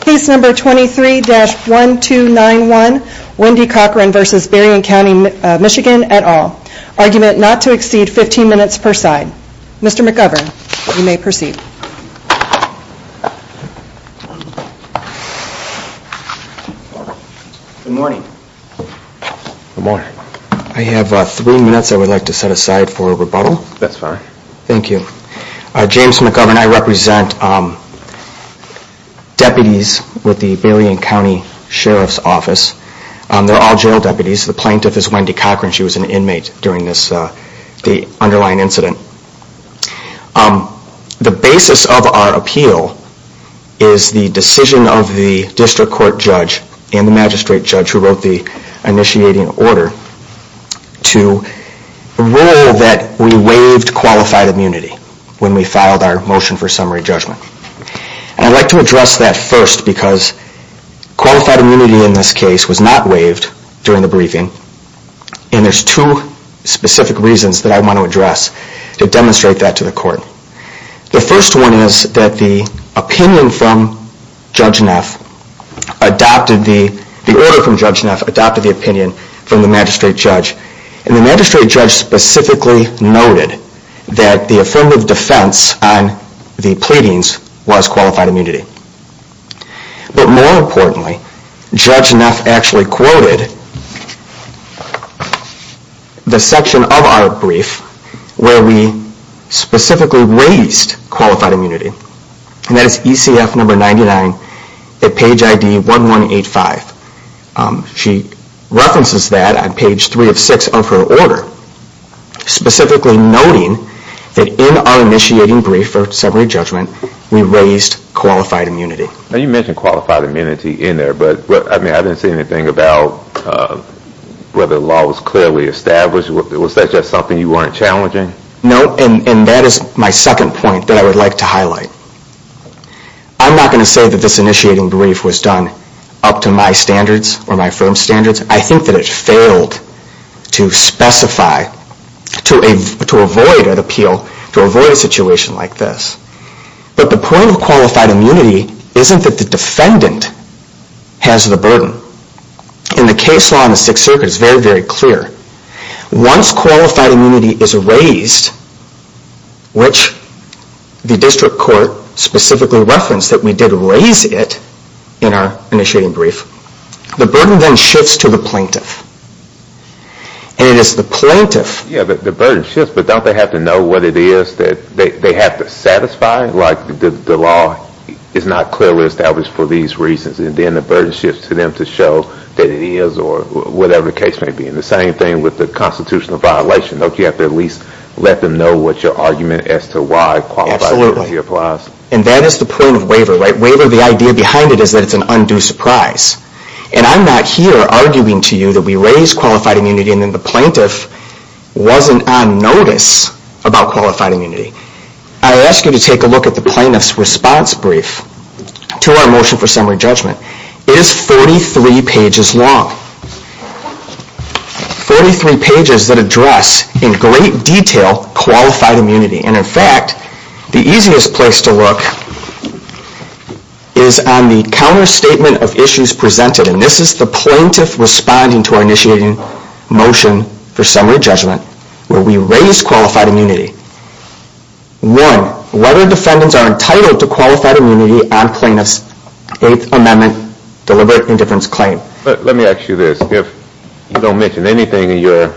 Case No. 23-1291, Wendy Cockrun v. Berrien County MI et al. Argument not to exceed 15 minutes per side. Mr. McGovern, you may proceed. Good morning. Good morning. I have three minutes I would like to set aside for rebuttal. That's fine. Thank you. James McGovern, I represent deputies with the Berrien County Sheriff's Office. They are all jail deputies. The plaintiff is Wendy Cockrun. She was an inmate during the underlying incident. The basis of our appeal is the decision of the district court judge and the magistrate judge who wrote the initiating order to rule that we waived qualified immunity when we filed our motion for summary judgment. I would like to address that first because qualified immunity in this case was not waived during the briefing and there are two specific reasons that I want to address to demonstrate that to the court. The first one is that the opinion from Judge Neff adopted the opinion from the magistrate judge and the magistrate judge specifically noted that the affirmative defense on the pleadings was qualified immunity. But more importantly, Judge Neff actually quoted the section of our brief where we specifically waived qualified immunity and that is ECF number 99 at page ID 1185. She references that on page 3 of 6 of her order specifically noting that in our initiating brief for summary judgment we raised qualified immunity. You mentioned qualified immunity in there but I didn't see anything about whether the law was clearly established. Was that just something you weren't challenging? No, and that is my second point that I would like to highlight. I'm not going to say that this initiating brief was done up to my standards or my firm's standards. I think that it failed to specify, to avoid an appeal, to avoid a situation like this. But the point of qualified immunity isn't that the defendant has the burden. In the case law in the Sixth Circuit it is very, very clear. Once qualified immunity is raised, which the district court specifically referenced that we did raise it in our initiating brief, the burden then shifts to the plaintiff. Yeah, the burden shifts but don't they have to know what it is that they have to satisfy? Like the law is not clearly established for these reasons and then the burden shifts to them to show that it is or whatever the case may be. And the same thing with the constitutional violation. Don't you have to at least let them know what your argument as to why qualified immunity applies? And that is the point of waiver. Waiver, the idea behind it is that it's an undue surprise. And I'm not here arguing to you that we raised qualified immunity and then the plaintiff wasn't on notice about qualified immunity. I ask you to take a look at the plaintiff's response brief to our motion for summary judgment. It is 43 pages long. 43 pages that address in great detail qualified immunity. And in fact, the easiest place to look is on the counter statement of issues presented. And this is the plaintiff responding to our initiating motion for summary judgment where we raise qualified immunity. One, whether defendants are entitled to qualified immunity on plaintiff's Eighth Amendment deliberate indifference claim. Let me ask you this. If you don't mention anything in your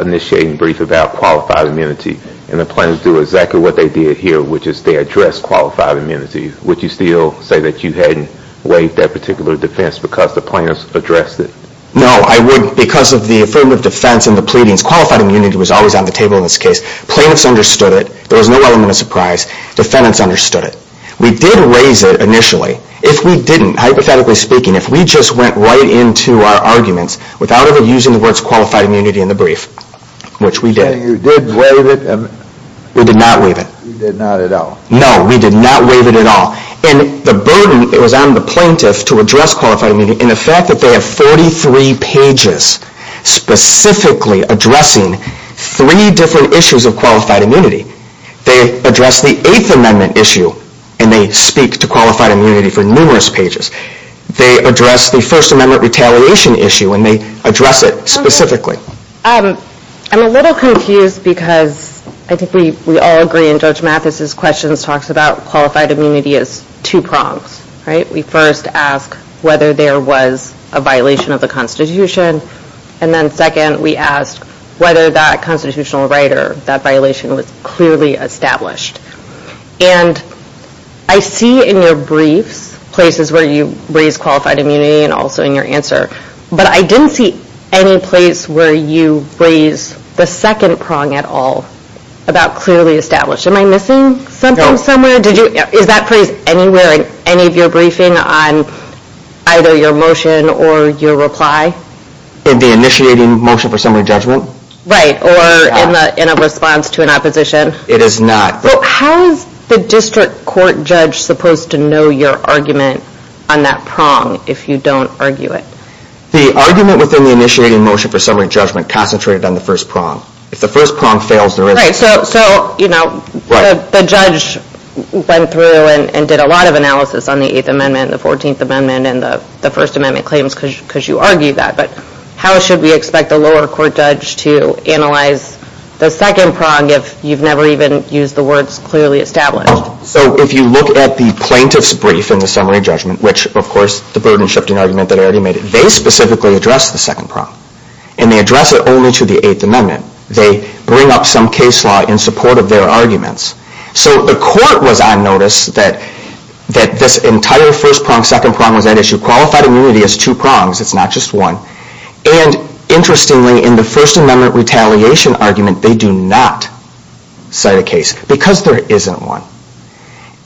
initiating brief about qualified immunity and the plaintiffs do exactly what they did here, which is they address qualified immunity, would you still say that you hadn't waived that particular defense because the plaintiffs addressed it? No, I wouldn't because of the affirmative defense and the pleadings. Qualified immunity was always on the table in this case. Plaintiffs understood it. There was no element of surprise. Defendants understood it. We did raise it initially. If we didn't, hypothetically speaking, if we just went right into our arguments without ever using the words qualified immunity in the brief, which we did. So you did waive it? We did not waive it. You did not at all? No, we did not waive it at all. And the burden was on the plaintiff to address qualified immunity and the fact that they have 43 pages specifically addressing three different issues of qualified immunity. They address the Eighth Amendment issue and they speak to qualified immunity for numerous pages. They address the First Amendment retaliation issue and they address it specifically. I'm a little confused because I think we all agree in Judge Mathis's questions talks about qualified immunity as two prongs. We first ask whether there was a violation of the Constitution and then second we ask whether that constitutional right or that violation was clearly established. And I see in your briefs places where you raise qualified immunity and also in your answer, but I didn't see any place where you raise the second prong at all about clearly established. Am I missing something somewhere? Is that phrase anywhere in any of your briefing on either your motion or your reply? In the initiating motion for summary judgment? Right, or in a response to an opposition? It is not. How is the district court judge supposed to know your argument on that prong if you don't argue it? The argument within the initiating motion for summary judgment concentrated on the first prong. If the first prong fails, there isn't. Right, so the judge went through and did a lot of analysis on the Eighth Amendment, the Fourteenth Amendment, and the First Amendment claims because you argued that. But how should we expect the lower court judge to analyze the second prong if you've never even used the words clearly established? So if you look at the plaintiff's brief in the summary judgment, which of course the burden shifting argument that I already made, they specifically address the second prong. And they address it only to the Eighth Amendment. They bring up some case law in support of their arguments. So the court was on notice that this entire first prong, second prong was at issue. Qualified immunity is two prongs, it's not just one. And interestingly, in the First Amendment retaliation argument, they do not cite a case because there isn't one.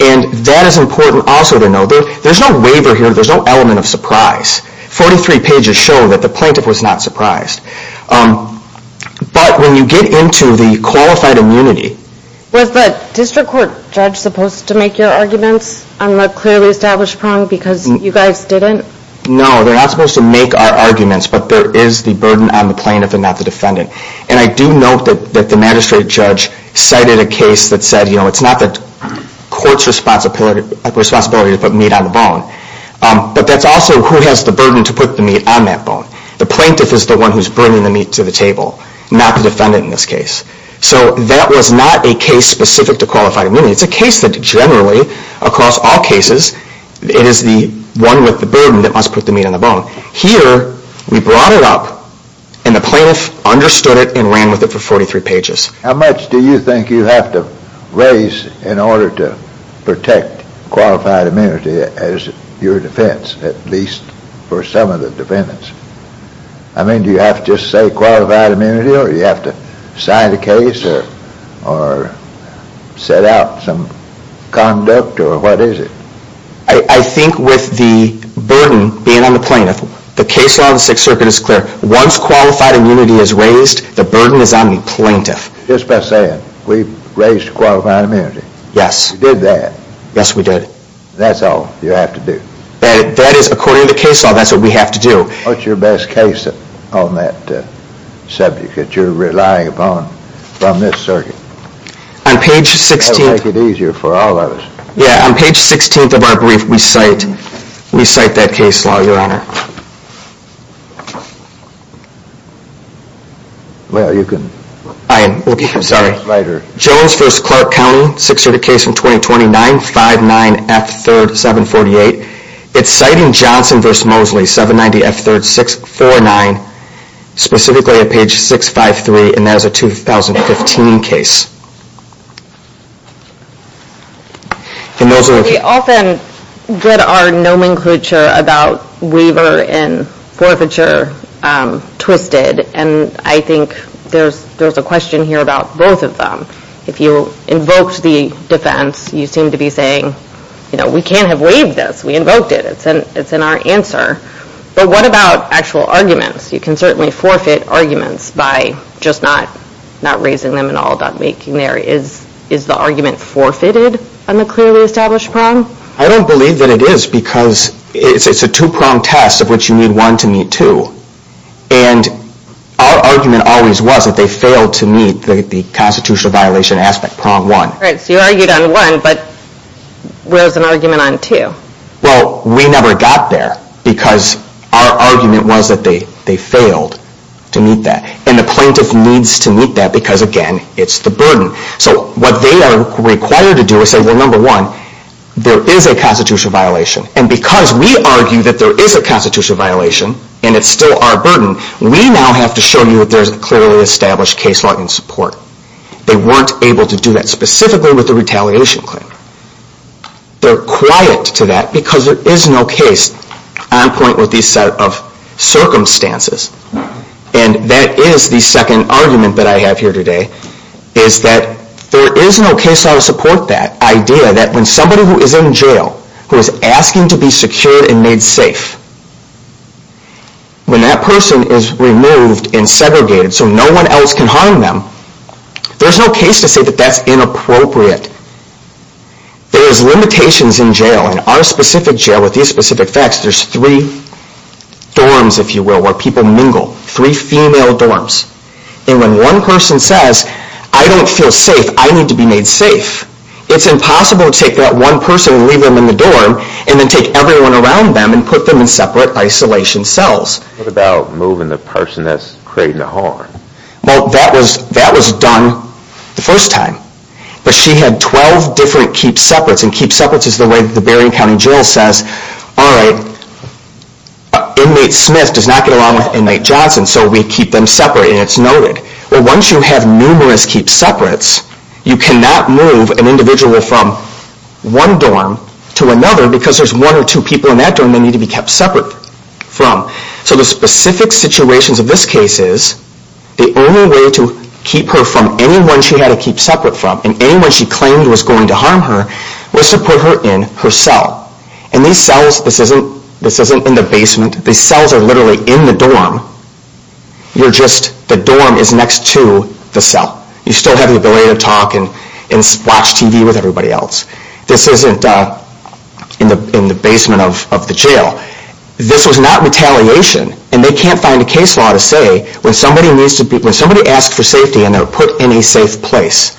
And that is important also to know. There's no waiver here, there's no element of surprise. Forty-three pages show that the plaintiff was not surprised. But when you get into the qualified immunity... Was the district court judge supposed to make your arguments on the clearly established prong because you guys didn't? No, they're not supposed to make our arguments, but there is the burden on the plaintiff and not the defendant. And I do note that the magistrate judge cited a case that said, you know, it's not the court's responsibility to put meat on the bone. But that's also who has the burden to put the meat on that bone. The plaintiff is the one who's bringing the meat to the table, not the defendant in this case. So that was not a case specific to qualified immunity. It's a case that generally, across all cases, it is the one with the burden that must put the meat on the bone. Here, we brought it up and the plaintiff understood it and ran with it for 43 pages. How much do you think you have to raise in order to protect qualified immunity as your defense, at least for some of the defendants? I mean, do you have to just say qualified immunity or do you have to sign the case or set out some conduct or what is it? I think with the burden being on the plaintiff, the case law of the Sixth Circuit is clear. Once qualified immunity is raised, the burden is on the plaintiff. Just by saying, we've raised qualified immunity. Yes. You did that. Yes, we did. That's all you have to do. That is, according to the case law, that's what we have to do. What's your best case on that subject that you're relying upon from this circuit? On page 16. That will make it easier for all of us. Yes, on page 16 of our brief, we cite that case law, Your Honor. Well, you can... I am sorry. Later. Jones v. Clark County, Sixth Circuit case from 2029, 59F3rd, 748. It's citing Johnson v. Mosley, 790F3rd, 649, specifically at page 653, and that is a 2015 case. We often get our nomenclature about waiver and forfeiture twisted, and I think there's a question here about both of them. If you invoked the defense, you seem to be saying, you know, we can't have waived this. We invoked it. It's in our answer. But what about actual arguments? You can certainly forfeit arguments by just not raising them at all. Is the argument forfeited on the clearly established prong? I don't believe that it is because it's a two-pronged test of which you need one to meet two. And our argument always was that they failed to meet the constitutional violation aspect, prong one. Right, so you argued on one, but rose an argument on two. Well, we never got there because our argument was that they failed to meet that. And the plaintiff needs to meet that because, again, it's the burden. So what they are required to do is say, well, number one, there is a constitutional violation. And because we argue that there is a constitutional violation and it's still our burden, we now have to show you that there's a clearly established case law in support. They weren't able to do that specifically with the retaliation claim. They're quiet to that because there is no case on point with these set of circumstances. And that is the second argument that I have here today, is that there is no case law to support that idea that when somebody who is in jail who is asking to be secured and made safe, when that person is removed and segregated so no one else can harm them, there's no case to say that that's inappropriate. There is limitations in jail, and our specific jail with these specific facts, there's three dorms, if you will, where people mingle, three female dorms. And when one person says, I don't feel safe, I need to be made safe, it's impossible to take that one person and leave them in the dorm and then take everyone around them and put them in separate isolation cells. What about moving the person that's creating the harm? Well, that was done the first time. But she had 12 different keep-separates, and keep-separates is the way the Berrien County Jail says, all right, inmate Smith does not get along with inmate Johnson, so we keep them separate, and it's noted. Well, once you have numerous keep-separates, you cannot move an individual from one dorm to another because there's one or two people in that dorm that need to be kept separate from. So the specific situations of this case is the only way to keep her from anyone she had to keep separate from and anyone she claimed was going to harm her was to put her in her cell. And these cells, this isn't in the basement, these cells are literally in the dorm. You're just, the dorm is next to the cell. You still have the ability to talk and watch TV with everybody else. This isn't in the basement of the jail. This was not retaliation, and they can't find a case law to say when somebody needs to be, when somebody asks for safety and they're put in a safe place,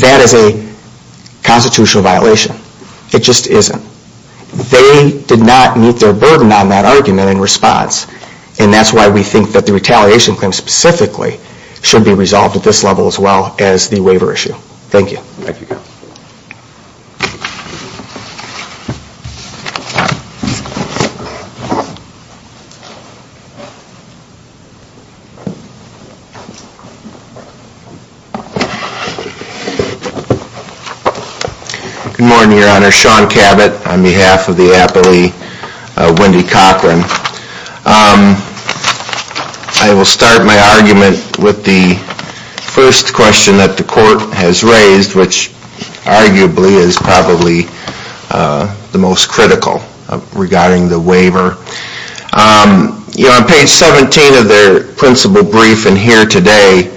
that is a constitutional violation. It just isn't. They did not meet their burden on that argument in response, and that's why we think that the retaliation claim specifically should be resolved at this level as well as the waiver issue. Thank you. Thank you. Good morning, Your Honor. Sean Cabot on behalf of the appellee, Wendy Cochran. I will start my argument with the first question that the court has raised, which arguably is probably the most critical regarding the waiver. On page 17 of their principal brief in here today,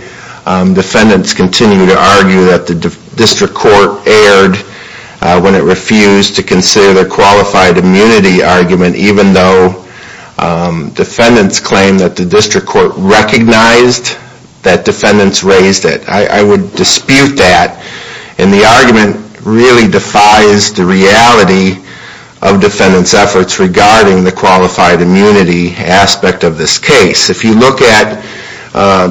defendants continue to argue that the district court erred when it refused to consider their qualified immunity argument, even though defendants claim that the district court recognized that defendants raised it. I would dispute that, and the argument really defies the reality of defendants' efforts regarding the qualified immunity aspect of this case. If you look at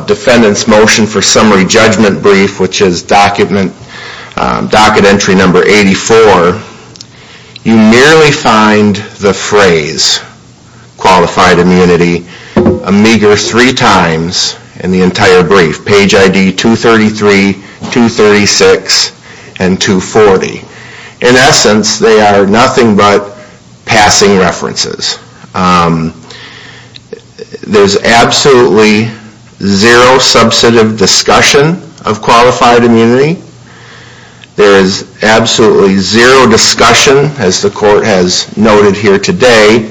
defendants' motion for summary judgment brief, which is docket entry number 84, you merely find the phrase, qualified immunity, a meager three times in the entire brief. Page ID 233, 236, and 240. In essence, they are nothing but passing references. There is absolutely zero substantive discussion of qualified immunity. There is absolutely zero discussion, as the court has noted here today,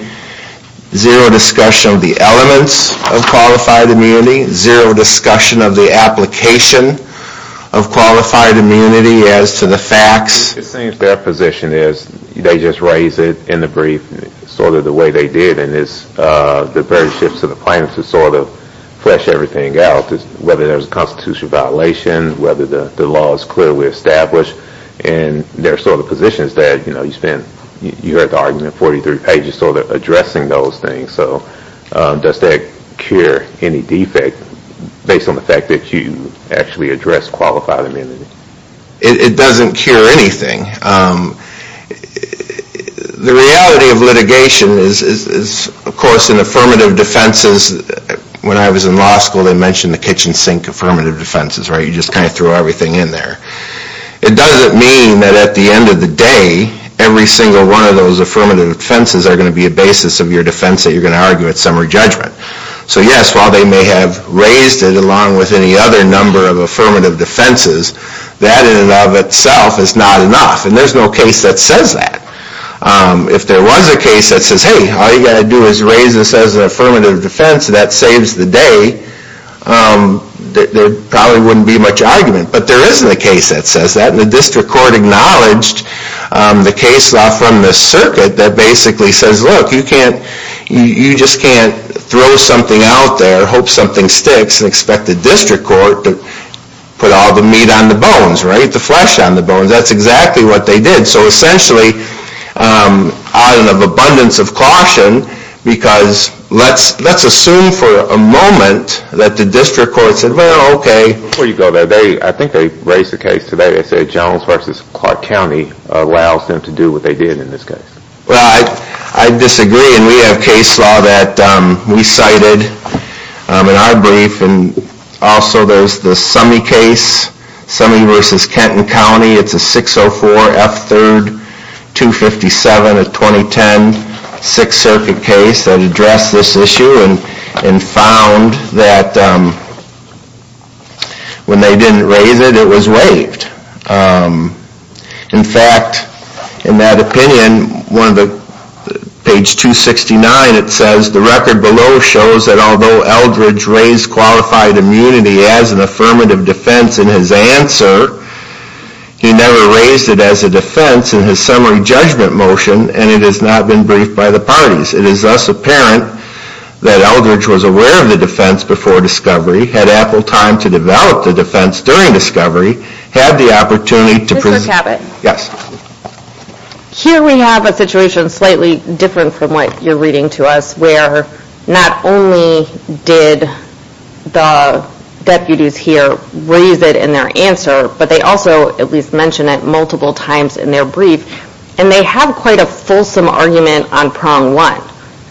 zero discussion of the elements of qualified immunity, zero discussion of the application of qualified immunity as to the facts. It seems their position is they just raise it in the brief sort of the way they did, and it's the very shifts of the plaintiff to sort of flesh everything out, whether there's a constitutional violation, whether the law is clearly established, and their sort of position is that, you know, you spent, you heard the argument 43 pages sort of addressing those things, so does that cure any defect based on the fact that you actually addressed qualified immunity? It doesn't cure anything. The reality of litigation is, of course, in affirmative defenses, when I was in law school, they mentioned the kitchen sink affirmative defenses, right? You just kind of threw everything in there. It doesn't mean that at the end of the day, every single one of those affirmative defenses are going to be a basis of your defense that you're going to argue at summary judgment. So yes, while they may have raised it along with any other number of affirmative defenses, that in and of itself is not enough, and there's no case that says that. If there was a case that says, hey, all you got to do is raise this as an affirmative defense, that saves the day, there probably wouldn't be much argument. But there isn't a case that says that, and the district court acknowledged the case law from the circuit that basically says, look, you just can't throw something out there, hope something sticks, and expect the district court to put all the meat on the bones, right? The flesh on the bones. That's exactly what they did. So essentially, of abundance of caution, because let's assume for a moment that the district court said, well, okay. Before you go there, I think they raised the case today. They said Jones v. Clark County allows them to do what they did in this case. Well, I disagree, and we have case law that we cited in our brief, and also there's the Summey case, Summey v. Kenton County. It's a 604 F. 3rd 257 of 2010 Sixth Circuit case that addressed this issue and found that when they didn't raise it, it was waived. In fact, in that opinion, page 269, it says, the record below shows that although Eldridge raised qualified immunity as an affirmative defense in his answer, he never raised it as a defense in his summary judgment motion, and it has not been briefed by the parties. It is thus apparent that Eldridge was aware of the defense before discovery, had ample time to develop the defense during discovery, had the opportunity to present. Mr. Cabot. Yes. Here we have a situation slightly different from what you're reading to us where not only did the deputies here raise it in their answer, but they also at least mentioned it multiple times in their brief, and they have quite a fulsome argument on prong one.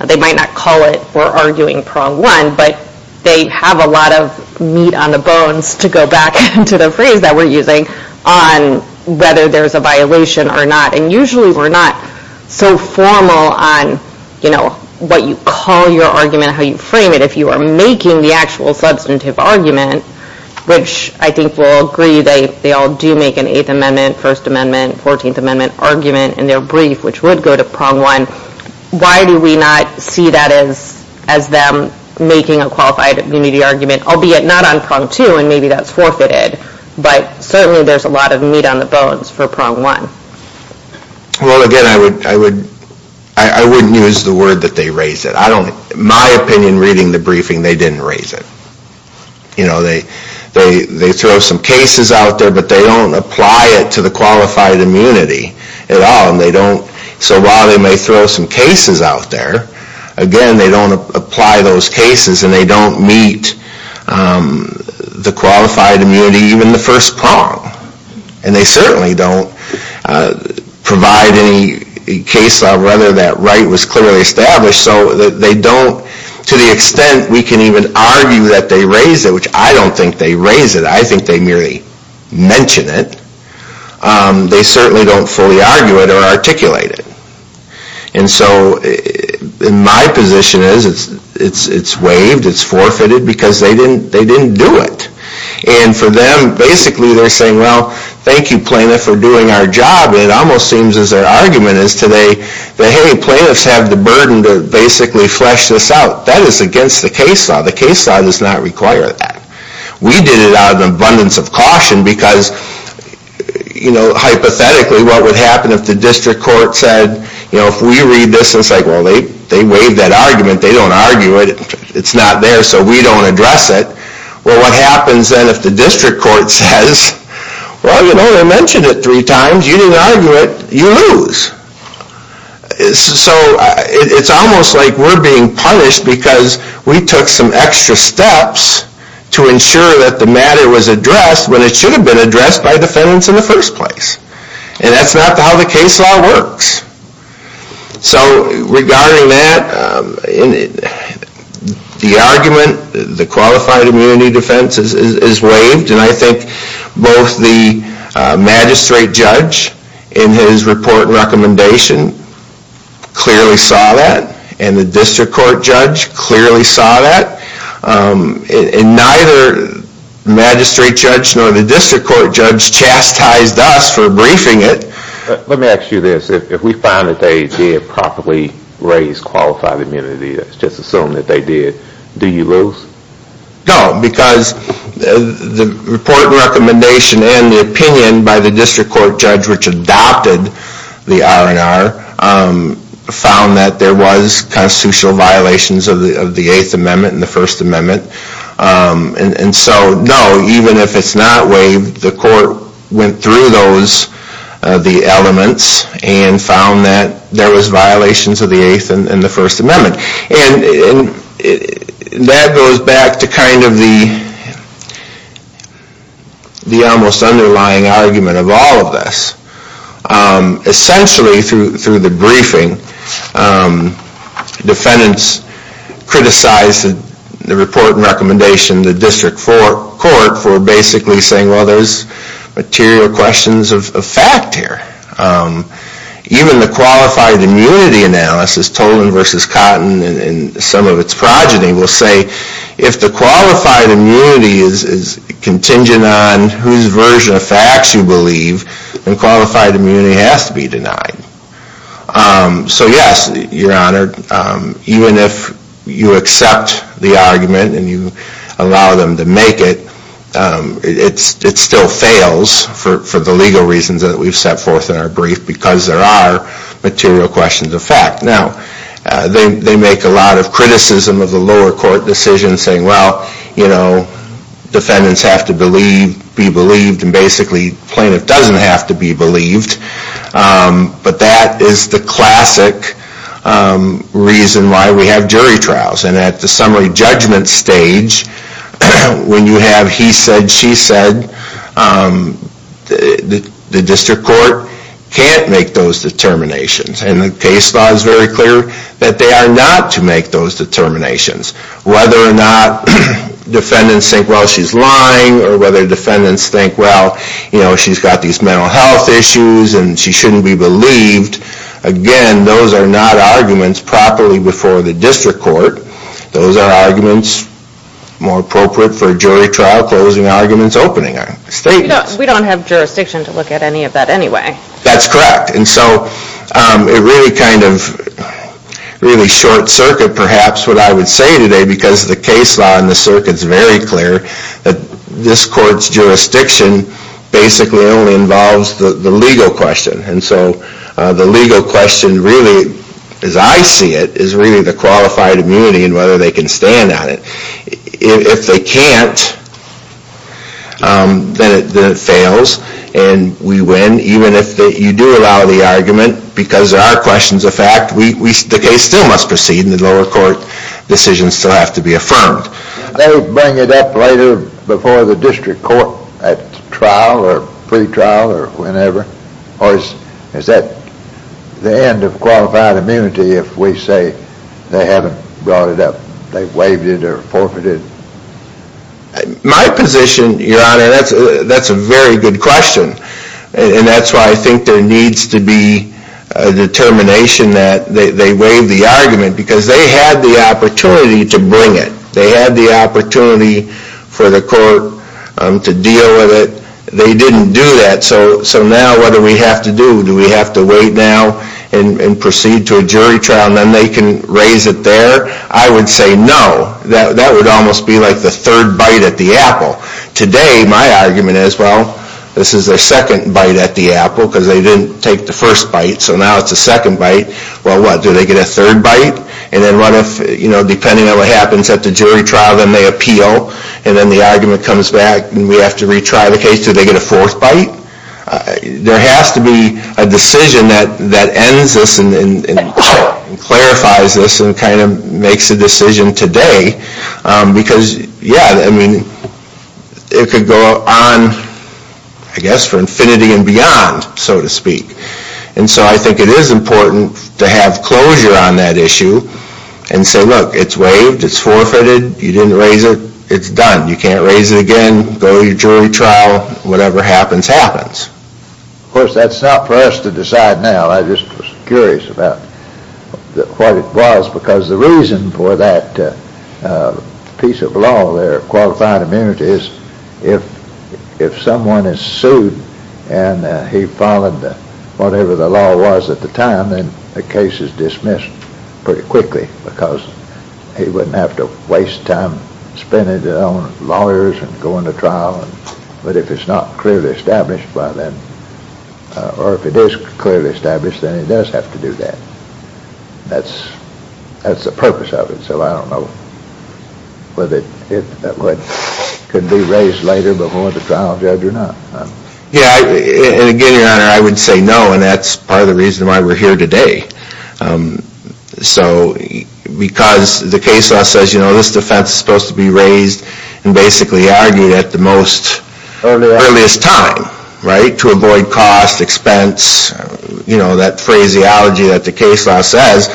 They might not call it for arguing prong one, but they have a lot of meat on the bones to go back to the phrase that we're using on whether there's a violation or not, and usually we're not so formal on what you call your argument, how you frame it. If you are making the actual substantive argument, which I think we'll agree they all do make an Eighth Amendment, First Amendment, Fourteenth Amendment argument in their brief, which would go to prong one, why do we not see that as them making a qualified immunity argument, albeit not on prong two, and maybe that's forfeited, but certainly there's a lot of meat on the bones for prong one. Well, again, I wouldn't use the word that they raised it. In my opinion, reading the briefing, they didn't raise it. You know, they throw some cases out there, but they don't apply it to the qualified immunity at all, and they don't, so while they may throw some cases out there, again, they don't apply those cases, and they don't meet the qualified immunity, even the first prong, and they certainly don't provide any case of whether that right was clearly established, so they don't, to the extent we can even argue that they raise it, which I don't think they raise it, I think they merely mention it, they certainly don't fully argue it or articulate it. And so my position is it's waived, it's forfeited, because they didn't do it. And for them, basically they're saying, well, thank you plaintiff for doing our job, and it almost seems as their argument is today that, hey, plaintiffs have the burden to basically flesh this out. That is against the case law. The case law does not require that. We did it out of an abundance of caution because, you know, hypothetically what would happen if the district court said, you know, if we read this, and it's like, well, they waived that argument, they don't argue it, it's not there, so we don't address it. Well, what happens then if the district court says, well, you know, you didn't mention it three times, you didn't argue it, you lose. So it's almost like we're being punished because we took some extra steps to ensure that the matter was addressed when it should have been addressed by defendants in the first place. And that's not how the case law works. So regarding that, the argument, the qualified immunity defense is waived, and I think both the magistrate judge in his report and recommendation clearly saw that, and the district court judge clearly saw that, and neither magistrate judge nor the district court judge chastised us for briefing it. Let me ask you this. If we found that they did properly raise qualified immunity, let's just assume that they did, do you lose? No, because the report and recommendation and the opinion by the district court judge which adopted the R&R found that there was constitutional violations of the Eighth Amendment and the First Amendment. And so, no, even if it's not waived, the court went through those, the elements, and found that there was violations of the Eighth and the First Amendment. And that goes back to kind of the almost underlying argument of all of this. Essentially, through the briefing, defendants criticized the report and recommendation of the district court for basically saying, well, there's material questions of fact here. Even the qualified immunity analysis, Tolan v. Cotton, and some of its progeny will say, if the qualified immunity is contingent on whose version of facts you believe, then qualified immunity has to be denied. So, yes, Your Honor, even if you accept the argument and you allow them to make it, it still fails for the legal reasons that we've set forth in our brief because there are material questions of fact. Now, they make a lot of criticism of the lower court decision saying, well, defendants have to believe, be believed, and basically plaintiff doesn't have to be believed. But that is the classic reason why we have jury trials. And at the summary judgment stage, when you have he said, she said, the district court can't make those determinations. And the case law is very clear that they are not to make those determinations. Whether or not defendants think, well, she's lying, or whether defendants think, well, she's got these mental health issues and she shouldn't be believed, again, those are not arguments properly before the district court. Those are arguments more appropriate for jury trial closing arguments opening statements. We don't have jurisdiction to look at any of that anyway. That's correct. And so it really kind of really short circuit perhaps what I would say today because the case law in the circuit is very clear that this court's jurisdiction basically only involves the legal question. And so the legal question really, as I see it, is really the qualified immunity and whether they can stand on it. If they can't, then it fails and we win. Even if you do allow the argument because there are questions of fact, the case still must proceed and the lower court decisions still have to be affirmed. They bring it up later before the district court at trial or pretrial or whenever or is that the end of qualified immunity if we say they haven't brought it up, they waived it or forfeited? My position, Your Honor, that's a very good question and that's why I think there needs to be a determination that they waived the argument because they had the opportunity to bring it. They had the opportunity for the court to deal with it. They didn't do that. So now what do we have to do? Do we have to wait now and proceed to a jury trial and then they can raise it there? I would say no. That would almost be like the third bite at the apple. Today my argument is, well, this is their second bite at the apple because they didn't take the first bite so now it's the second bite. Well, what, do they get a third bite? And then what if, you know, depending on what happens at the jury trial, then they appeal and then the argument comes back and we have to retry the case, do they get a fourth bite? There has to be a decision that ends this and clarifies this and kind of makes a decision today because, yeah, I mean, it could go on, I guess, for infinity and beyond, so to speak. And so I think it is important to have closure on that issue and say, look, it's waived, it's forfeited, you didn't raise it, it's done. You can't raise it again, go to your jury trial, whatever happens, happens. Of course, that's not for us to decide now. I'm just curious about what it was because the reason for that piece of law there, qualified immunity, is if someone is sued and he followed whatever the law was at the time, then the case is dismissed pretty quickly because he wouldn't have to waste time spending it on lawyers and going to trial. But if it's not clearly established by them, or if it is clearly established, then he does have to do that. That's the purpose of it. So I don't know whether it could be raised later before the trial judge or not. Yeah, and again, Your Honor, I would say no, and that's part of the reason why we're here today. So because the case law says, you know, this defense is supposed to be raised and basically argued at the most earliest time, right, to avoid cost, expense, you know, that phraseology that the case law says.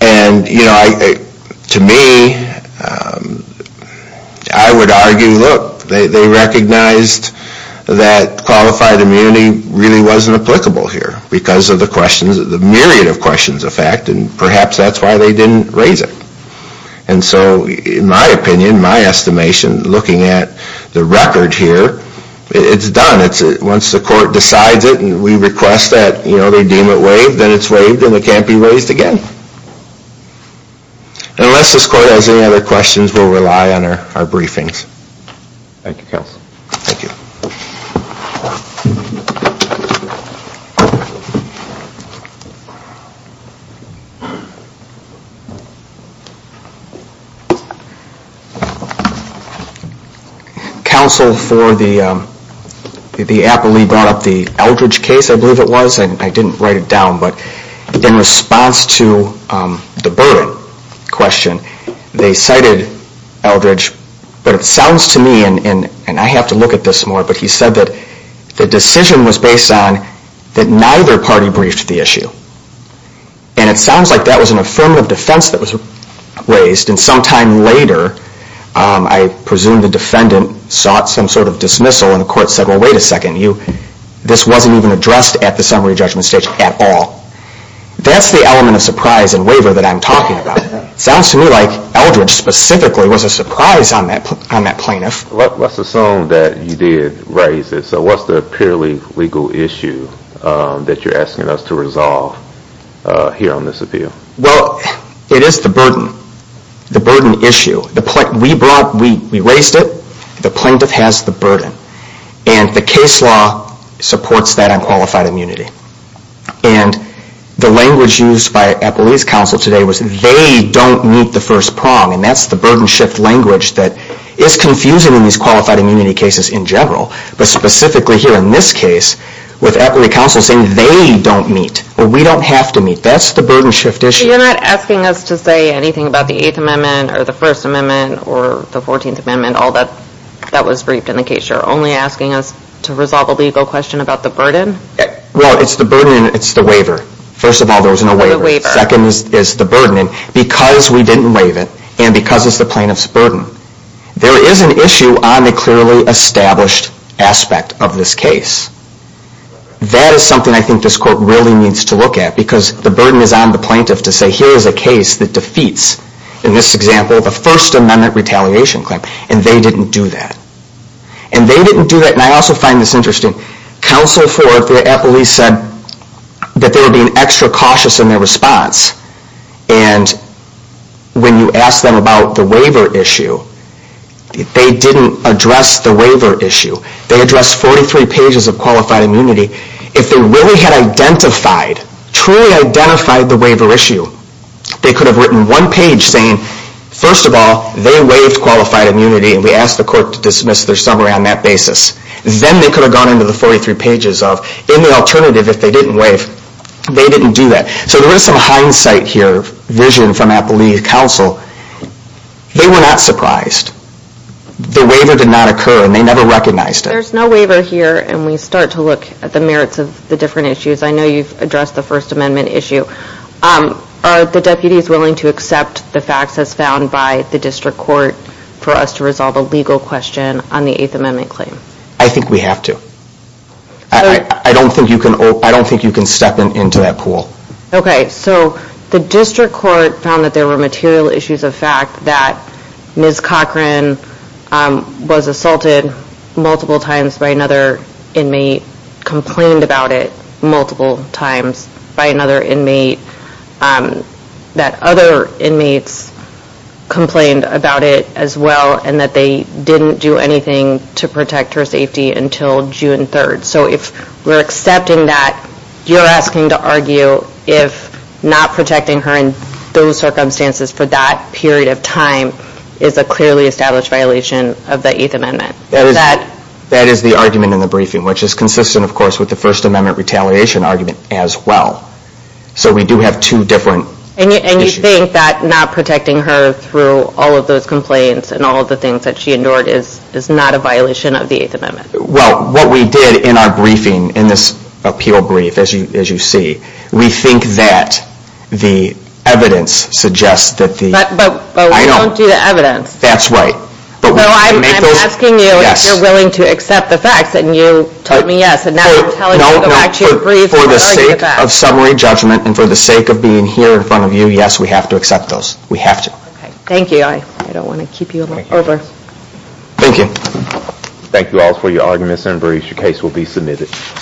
And, you know, to me, I would argue, look, they recognized that qualified immunity really wasn't applicable here because of the questions, the myriad of questions, in fact, and perhaps that's why they didn't raise it. And so in my opinion, my estimation, looking at the record here, it's done. Once the court decides it and we request that, you know, they deem it waived, then it's waived and it can't be raised again. Unless this court has any other questions, we'll rely on our briefings. Thank you, counsel. Thank you. Counsel, for the appellee brought up the Eldridge case, I believe it was. I didn't write it down, but in response to the Burden question, they cited Eldridge, but it sounds to me, and I have to look at this more, but he said that the decision was based on that neither party briefed the issue. And it sounds like that was an affirmative defense that was raised, and sometime later I presume the defendant sought some sort of dismissal and the court said, well, wait a second, this wasn't even addressed at the summary judgment stage at all. That's the element of surprise and waiver that I'm talking about. It sounds to me like Eldridge specifically was a surprise on that plaintiff. Let's assume that you did raise it. So what's the purely legal issue that you're asking us to resolve here on this appeal? Well, it is the burden, the burden issue. We raised it. The plaintiff has the burden. And the case law supports that on qualified immunity. And the language used by appellee's counsel today was they don't meet the first prong, and that's the burden shift language that is confusing in these qualified immunity cases in general, but specifically here in this case with appellee's counsel saying they don't meet or we don't have to meet. That's the burden shift issue. So you're not asking us to say anything about the Eighth Amendment or the First Amendment or the Fourteenth Amendment, all that was briefed in the case. You're only asking us to resolve a legal question about the burden? Well, it's the burden and it's the waiver. First of all, there was no waiver. The waiver. Second is the burden. And because we didn't waive it and because it's the plaintiff's burden, there is an issue on the clearly established aspect of this case. That is something I think this court really needs to look at because the burden is on the plaintiff to say here is a case that defeats, in this example, the First Amendment retaliation claim, and they didn't do that. And they didn't do that. And I also find this interesting. Counsel for the police said that they were being extra cautious in their response. And when you ask them about the waiver issue, they didn't address the waiver issue. They addressed 43 pages of qualified immunity. If they really had identified, truly identified the waiver issue, they could have written one page saying, first of all, they waived qualified immunity and we asked the court to dismiss their summary on that basis. Then they could have gone into the 43 pages of, in the alternative, if they didn't waive, they didn't do that. So there is some hindsight here, vision from Appalachia Council. They were not surprised. The waiver did not occur, and they never recognized it. There's no waiver here, and we start to look at the merits of the different issues. I know you've addressed the First Amendment issue. Are the deputies willing to accept the facts as found by the district court for us to resolve a legal question on the Eighth Amendment claim? I think we have to. I don't think you can step into that pool. Okay, so the district court found that there were material issues of fact that Ms. Cochran was assaulted multiple times by another inmate, complained about it multiple times by another inmate, that other inmates complained about it as well, and that they didn't do anything to protect her safety until June 3rd. So if we're accepting that, you're asking to argue if not protecting her in those circumstances for that period of time is a clearly established violation of the Eighth Amendment. That is the argument in the briefing, which is consistent, of course, with the First Amendment retaliation argument as well. So we do have two different issues. And you think that not protecting her through all of those complaints and all of the things that she endured is not a violation of the Eighth Amendment? Well, what we did in our briefing, in this appeal brief, as you see, we think that the evidence suggests that the... But we don't do the evidence. That's right. So I'm asking you if you're willing to accept the facts, and you told me yes, and now I'm telling you that I actually agree with that. For the sake of summary judgment and for the sake of being here in front of you, yes, we have to accept those. We have to. Thank you. I don't want to keep you a little longer. Thank you. Thank you all for your arguments and briefs. Your case will be submitted.